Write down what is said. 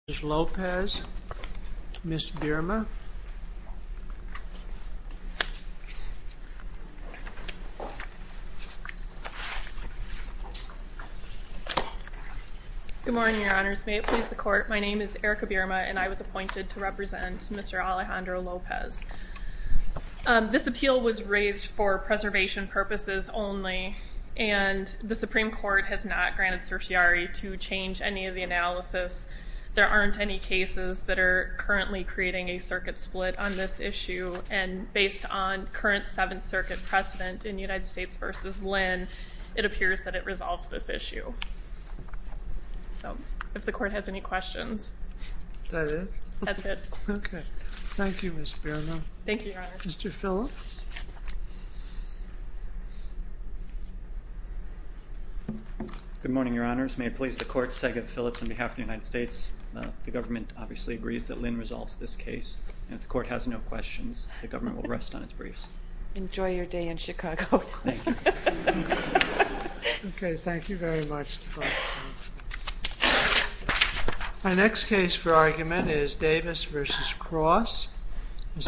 Lopez, Ms. Birma. Good morning, Your Honors. May it please the Court, my name is Erica Birma and I was appointed to represent Mr. Alejandro Lopez. This appeal was raised for preservation purposes only and the Supreme Court has not granted certiorari to change any of the analysis. There aren't any cases that are currently creating a circuit split on this issue and based on current Seventh Circuit precedent in United States v. Lynn, it appears that it resolves this issue. So if the Court has any questions. That's it. Okay, thank you, Ms. Birma. Thank you, Your Honor. Mr. Phillips. Good morning, Your Honors. May it please the Court, Sega Phillips on behalf of the United States. The government obviously agrees that Lynn resolves this case and if the Court has no questions, the government will rest on its briefs. Enjoy your day in Chicago. Thank you. Okay, thank you very much. My next case for argument is Davis v. Cross.